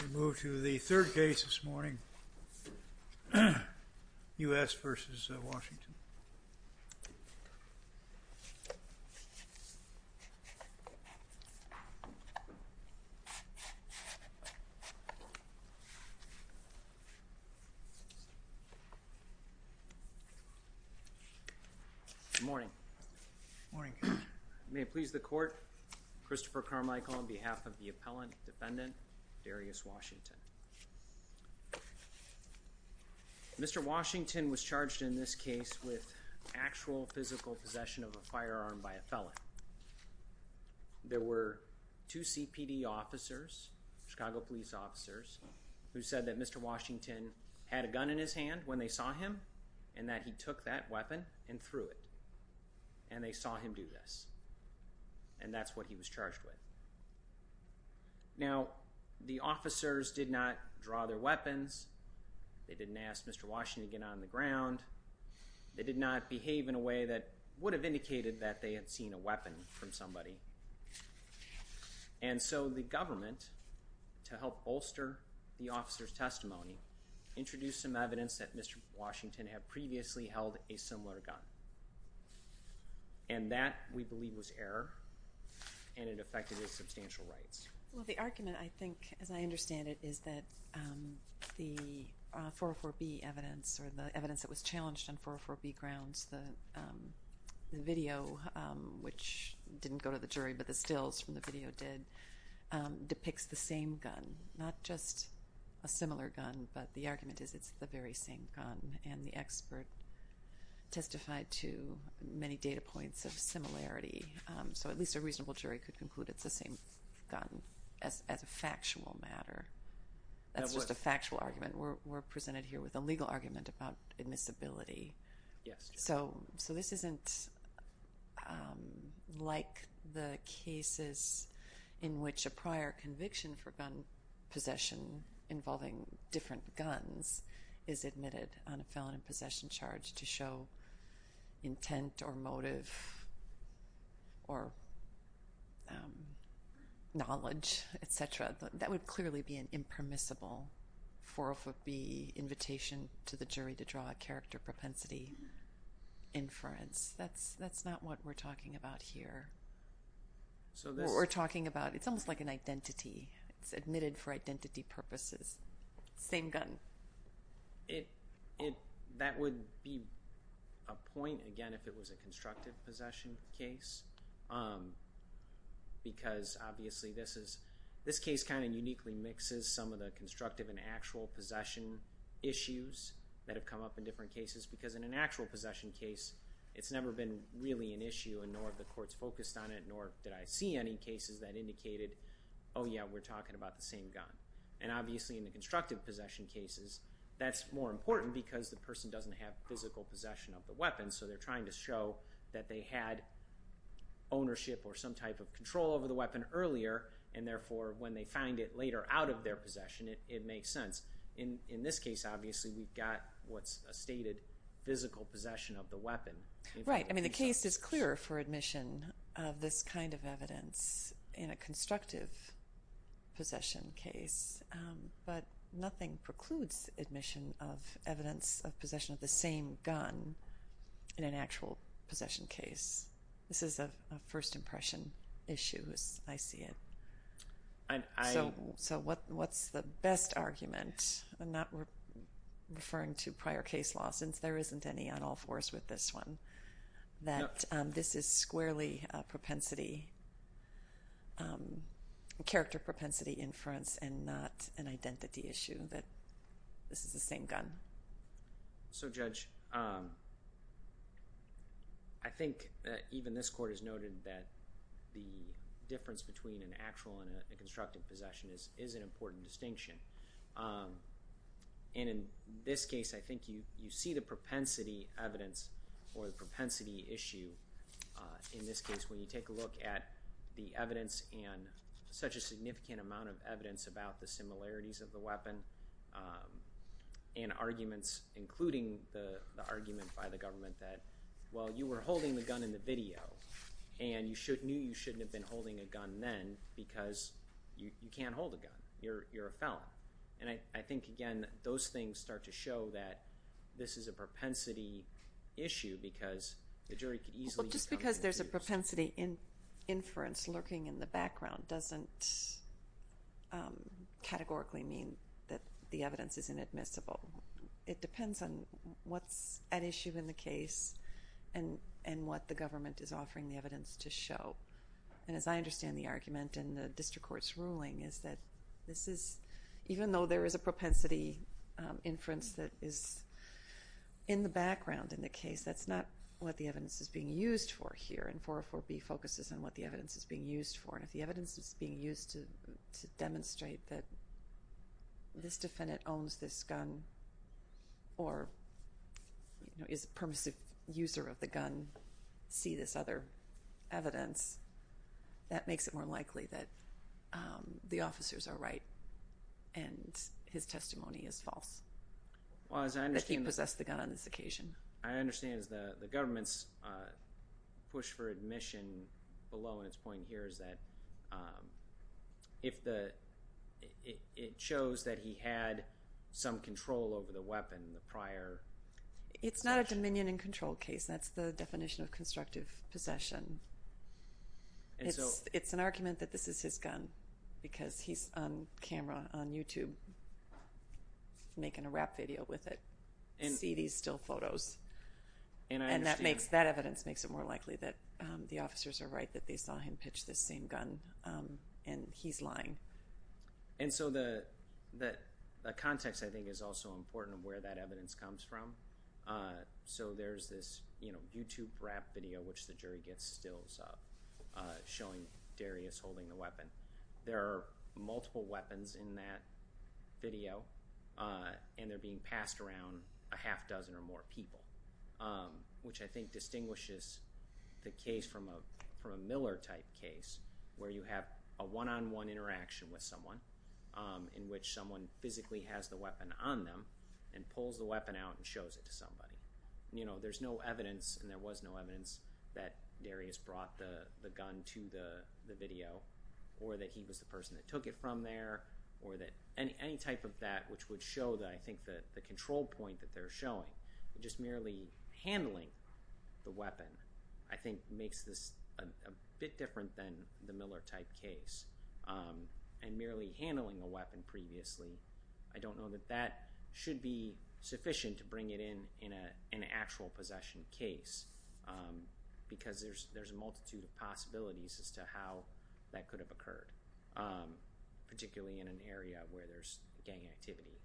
We move to the third case this morning, U.S. v. Washington. Good morning. Good morning. May it please the court, Christopher Carmichael on behalf of the appellant defendant, Darrius Washington. Mr. Washington was charged in this case with actual physical possession of a firearm by a felon. There were two CPD officers, Chicago police officers, who said that Mr. Washington had a gun in his hand when they saw him and that he took that weapon and threw it, and they saw him do this. And that's what he was charged with. Now, the officers did not draw their weapons. They didn't ask Mr. Washington to get on the ground. They did not behave in a way that would have indicated that they had seen a weapon from somebody. And so the government, to help bolster the officers' testimony, introduced some evidence that Mr. Washington had previously held a similar gun. And that, we believe, was error, and it affected his substantial rights. Well, the argument, I think, as I understand it, is that the 404B evidence or the evidence that was challenged on 404B grounds, the video, which didn't go to the jury, but the stills from the video did, depicts the same gun. Not just a similar gun, but the argument is it's the very same gun. And the expert testified to many data points of similarity. So at least a reasonable jury could conclude it's the same gun as a factual matter. That's just a factual argument. We're presented here with a legal argument about admissibility. Yes. So this isn't like the cases in which a prior conviction for gun possession involving different guns is admitted on a felon in possession charge to show intent or motive or knowledge, et cetera. That would clearly be an impermissible 404B invitation to the jury to draw a character propensity inference. That's not what we're talking about here. We're talking about, it's almost like an identity. It's admitted for identity purposes. Same gun. That would be a point, again, if it was a constructive possession case. Because obviously this case kind of uniquely mixes some of the constructive and actual possession issues that have come up in different cases. Because in an actual possession case, it's never been really an issue, and nor have the courts focused on it, nor did I see any cases that indicated, oh yeah, we're talking about the same gun. And obviously in the constructive possession cases, that's more important because the person doesn't have physical possession of the weapon. So they're trying to show that they had ownership or some type of control over the weapon earlier, and therefore when they find it later out of their possession, it makes sense. In this case, obviously, we've got what's a stated physical possession of the weapon. Right. I mean, the case is clearer for admission of this kind of evidence in a constructive possession case. But nothing precludes admission of evidence of possession of the same gun in an actual possession case. This is a first impression issue, as I see it. So what's the best argument? I'm not referring to prior case law since there isn't any on all fours with this one. This is squarely character propensity inference and not an identity issue that this is the same gun. So Judge, I think even this court has noted that the difference between an actual and a constructive possession is an important distinction. And in this case, I think you see the propensity evidence or the propensity issue in this case when you take a look at the evidence and such a significant amount of evidence about the similarities of the weapon and arguments including the argument by the government that, well, you were holding the gun in the video and you knew you shouldn't have been holding a gun then because you can't hold a gun. You're a felon. And I think, again, those things start to show that this is a propensity issue because the jury could easily come to a conclusion. Well, just because there's a propensity inference lurking in the background doesn't categorically mean that the evidence is inadmissible. It depends on what's at issue in the case and what the government is offering the evidence to show. And as I understand the argument in the district court's ruling is that this is, even though there is a propensity inference that is in the background in the case, that's not what the evidence is being used for here. And 404B focuses on what the evidence is being used for. And if the evidence is being used to demonstrate that this defendant owns this gun or is a permissive user of the gun, see this other evidence, that makes it more likely that the officers are right and his testimony is false that he possessed the gun on this occasion. I understand the government's push for admission below in its point here is that it shows that he had some control over the weapon, the prior possession. It's not a dominion and control case. That's the definition of constructive possession. It's an argument that this is his gun because he's on camera on YouTube making a rap video with it. See these still photos. And that evidence makes it more likely that the officers are right that they saw him pitch this same gun and he's lying. And so the context, I think, is also important of where that evidence comes from. So there's this YouTube rap video which the jury gets stills of showing Darius holding the weapon. There are multiple weapons in that video and they're being passed around a half dozen or more people, which I think distinguishes the case from a Miller-type case where you have a one-on-one interaction with someone in which someone physically has the weapon on them and pulls the weapon out and shows it to somebody. There's no evidence, and there was no evidence, that Darius brought the gun to the video or that he was the person that took it from there or that any type of that which would show that I think the control point that they're showing, just merely handling the weapon, I think makes this a bit different than the Miller-type case. And merely handling a weapon previously, I don't know that that should be sufficient to bring it in an actual possession case because there's a multitude of possibilities as to how that could have occurred, particularly in an area where there's gang activity.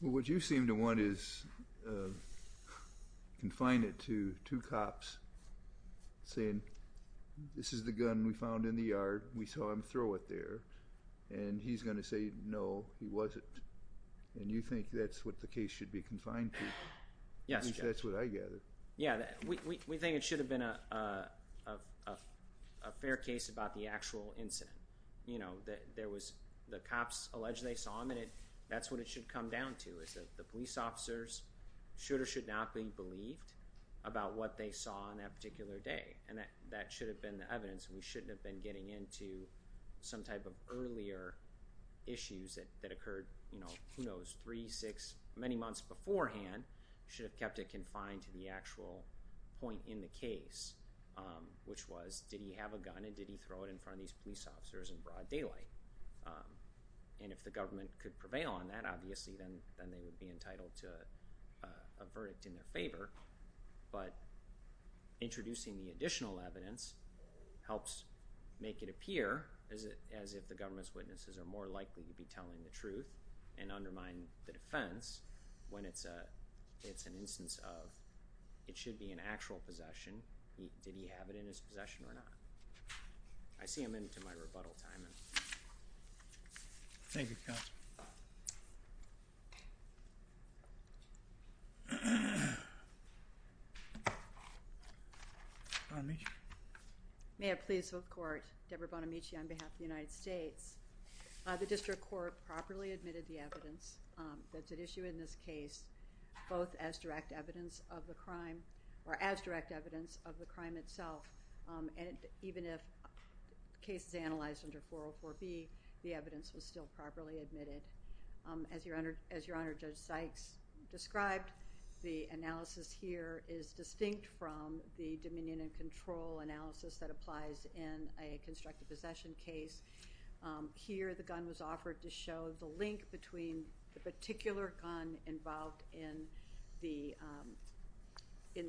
What you seem to want is confine it to two cops saying, this is the gun we found in the yard, we saw him throw it there, and he's going to say, no, he wasn't. And you think that's what the case should be confined to? Yes, Judge. I think that's what I gather. Yeah, we think it should have been a fair case about the actual incident. There was the cops alleged they saw him, and that's what it should come down to, is that the police officers should or should not be believed about what they saw on that particular day. And that should have been the evidence. We shouldn't have been getting into some type of earlier issues that occurred, who knows, three, six, many months beforehand, should have kept it confined to the actual point in the case, which was, did he have a gun and did he throw it in front of these police officers in broad daylight? And if the government could prevail on that, obviously, then they would be entitled to a verdict in their favor. But introducing the additional evidence helps make it appear as if the government's witnesses are more likely to be telling the truth and undermine the defense when it's an instance of, it should be an actual possession. Did he have it in his possession or not? I see a minute to my rebuttal time. Thank you, counsel. Bonamici. May it please both courts, Deborah Bonamici on behalf of the United States. The district court properly admitted the evidence that's at issue in this case, both as direct evidence of the crime or as direct evidence of the crime itself. And even if the case is analyzed under 404B, the evidence was still properly admitted. As your Honor, Judge Sykes described, the analysis here is distinct from the dominion and control analysis that applies in a constructed possession case. Here, the gun was offered to show the link between the particular gun involved in the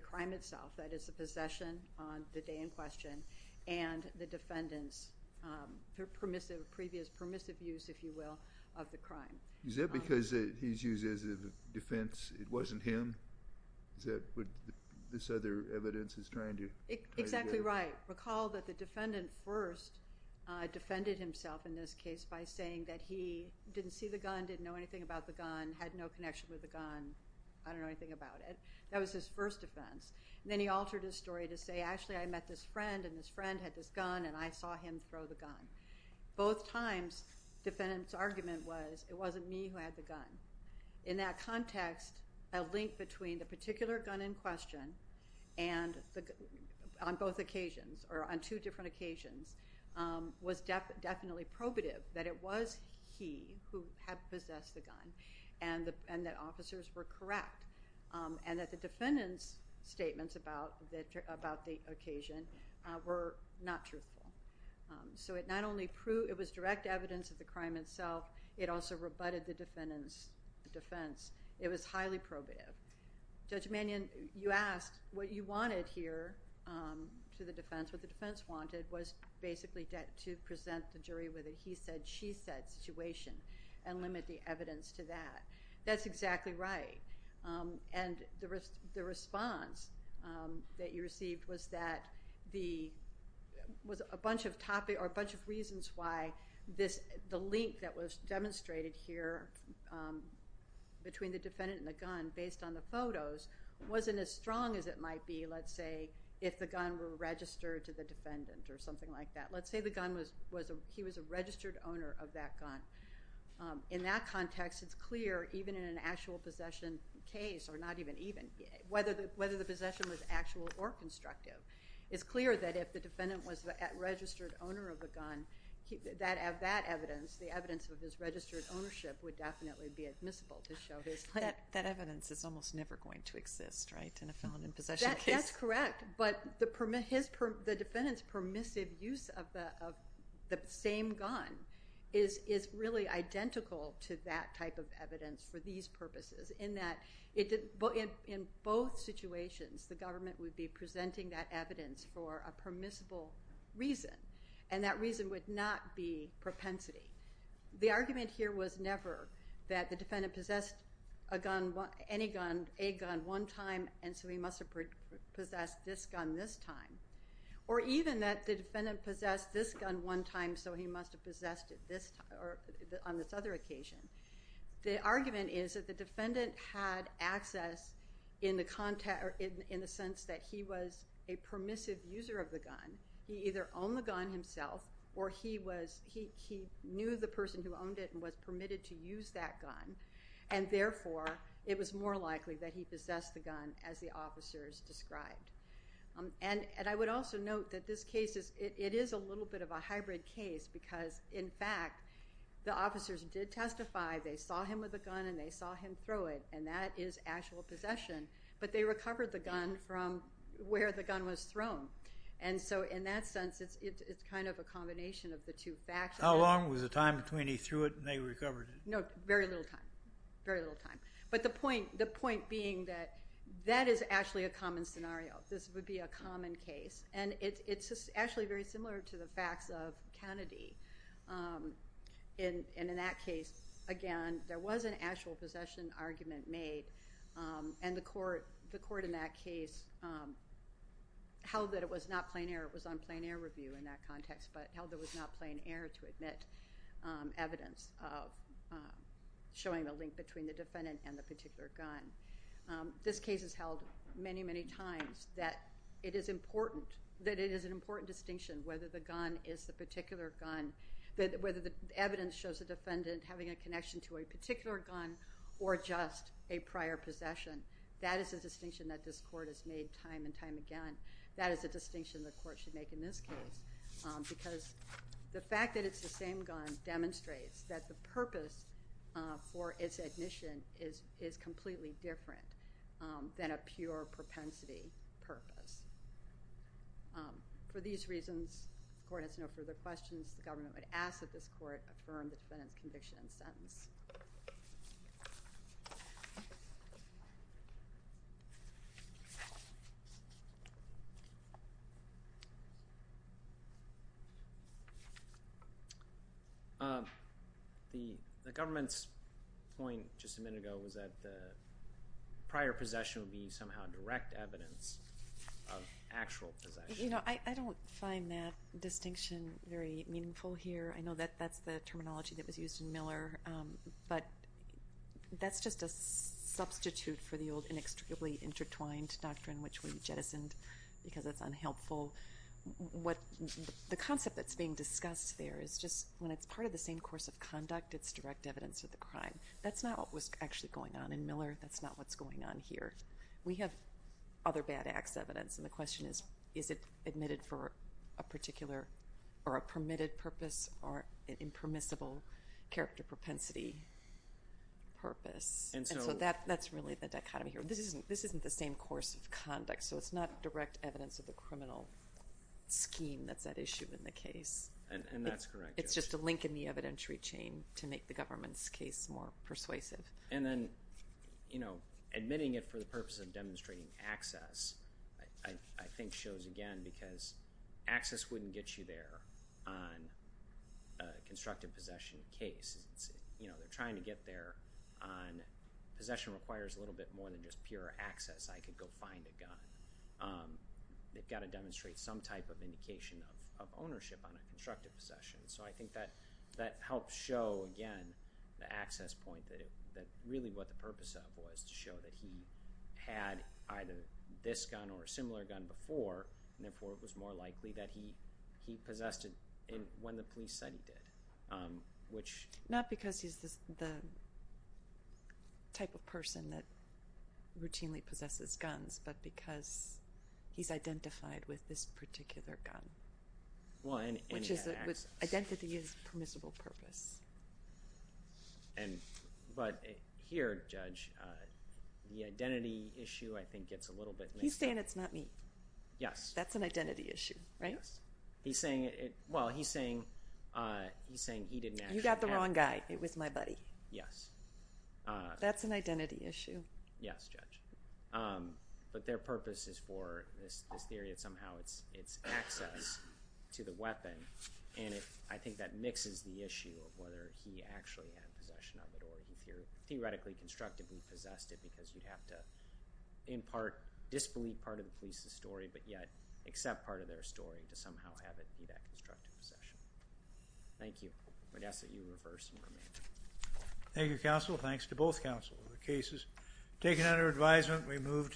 crime itself, that is, the possession on the day in question, and the defendant's previous permissive use, if you will, of the crime. Is that because he's used as a defense? It wasn't him? Exactly right. Recall that the defendant first defended himself in this case by saying that he didn't see the gun, didn't know anything about the gun, had no connection with the gun, I don't know anything about it. That was his first defense. Then he altered his story to say, actually, I met this friend, and this friend had this gun, and I saw him throw the gun. Both times, defendant's argument was it wasn't me who had the gun. In that context, a link between the particular gun in question and on both occasions, or on two different occasions, was definitely probative that it was he who had possessed the gun and that officers were correct, and that the defendant's statements about the occasion were not truthful. It was direct evidence of the crime itself. It also rebutted the defendant's defense. It was highly probative. Judge Mannion, you asked what you wanted here to the defense. What the defense wanted was basically to present the jury with a he said, she said situation and limit the evidence to that. That's exactly right. The response that you received was a bunch of reasons why the link that was demonstrated here between the defendant and the gun based on the photos wasn't as strong as it might be, let's say, if the gun were registered to the defendant or something like that. Let's say he was a registered owner of that gun. In that context, it's clear even in an actual possession case, or not even even, whether the possession was actual or constructive, it's clear that if the defendant was a registered owner of the gun, that evidence, the evidence of his registered ownership would definitely be admissible to show his claim. That evidence is almost never going to exist, right, in a felon in possession case? That's correct. But the defendant's permissive use of the same gun is really identical to that type of evidence for these purposes in that in both situations, the government would be presenting that evidence for a permissible reason, and that reason would not be propensity. The argument here was never that the defendant possessed a gun, any gun, a gun one time, and so he must have possessed this gun this time, or even that the defendant possessed this gun one time, so he must have possessed it on this other occasion. The argument is that the defendant had access in the sense that he was a permissive user of the gun. He either owned the gun himself, or he knew the person who owned it and was permitted to use that gun, and therefore it was more likely that he possessed the gun as the officers described. And I would also note that this case is a little bit of a hybrid case because, in fact, the officers did testify. They saw him with a gun, and they saw him throw it, and that is actual possession, but they recovered the gun from where the gun was thrown. And so in that sense, it's kind of a combination of the two facts. How long was the time between he threw it and they recovered it? No, very little time, very little time. But the point being that that is actually a common scenario. This would be a common case, and it's actually very similar to the facts of Kennedy. And in that case, again, there was an actual possession argument made, and the court in that case held that it was not plain error. Showing the link between the defendant and the particular gun. This case is held many, many times that it is an important distinction whether the gun is the particular gun, whether the evidence shows the defendant having a connection to a particular gun or just a prior possession. That is a distinction that this court has made time and time again. That is a distinction the court should make in this case because the fact that it's the same gun demonstrates that the purpose for its admission is completely different than a pure propensity purpose. For these reasons, the court has no further questions. The government would ask that this court affirm the defendant's conviction and sentence. The government's point just a minute ago was that the prior possession would be somehow direct evidence of actual possession. You know, I don't find that distinction very meaningful here. I know that that's the terminology that was used in Miller, but that's just a substitute for the old inextricably intertwined doctrine which we jettisoned because it's unhelpful. The concept that's being discussed there is just when it's part of the same course of conduct, it's direct evidence of the crime. That's not what was actually going on in Miller. That's not what's going on here. We have other bad acts evidence, and the question is, is it admitted for a particular or a permitted purpose or an impermissible character propensity purpose? And so that's really the dichotomy here. This isn't the same course of conduct, so it's not direct evidence of the criminal scheme that's at issue in the case. And that's correct. It's just a link in the evidentiary chain to make the government's case more persuasive. And then, you know, admitting it for the purpose of demonstrating access, I think shows again because access wouldn't get you there on a constructive possession case. You know, they're trying to get there on possession requires a little bit more than just pure access. I could go find a gun. They've got to demonstrate some type of indication of ownership on a constructive possession. So I think that helps show, again, the access point, that really what the purpose of it was to show that he had either this gun or a similar gun before, and therefore it was more likely that he possessed it when the police said he did. Not because he's the type of person that routinely possesses guns, but because he's identified with this particular gun, which identity is permissible purpose. But here, Judge, the identity issue I think gets a little bit mixed up. He's saying it's not me. Yes. That's an identity issue, right? Yes. Well, he's saying he didn't actually have it. You got the wrong guy. It was my buddy. Yes. That's an identity issue. Yes, Judge. But their purpose is for this theory that somehow it's access to the weapon, and I think that mixes the issue of whether he actually had possession of it or he theoretically constructively possessed it because you'd have to in part disbelieve part of the police's story, but yet accept part of their story to somehow have it be that constructive possession. Thank you. I'm going to ask that you reverse and remain. Thank you, Counsel. Thanks to both counsels. The case is taken under advisement.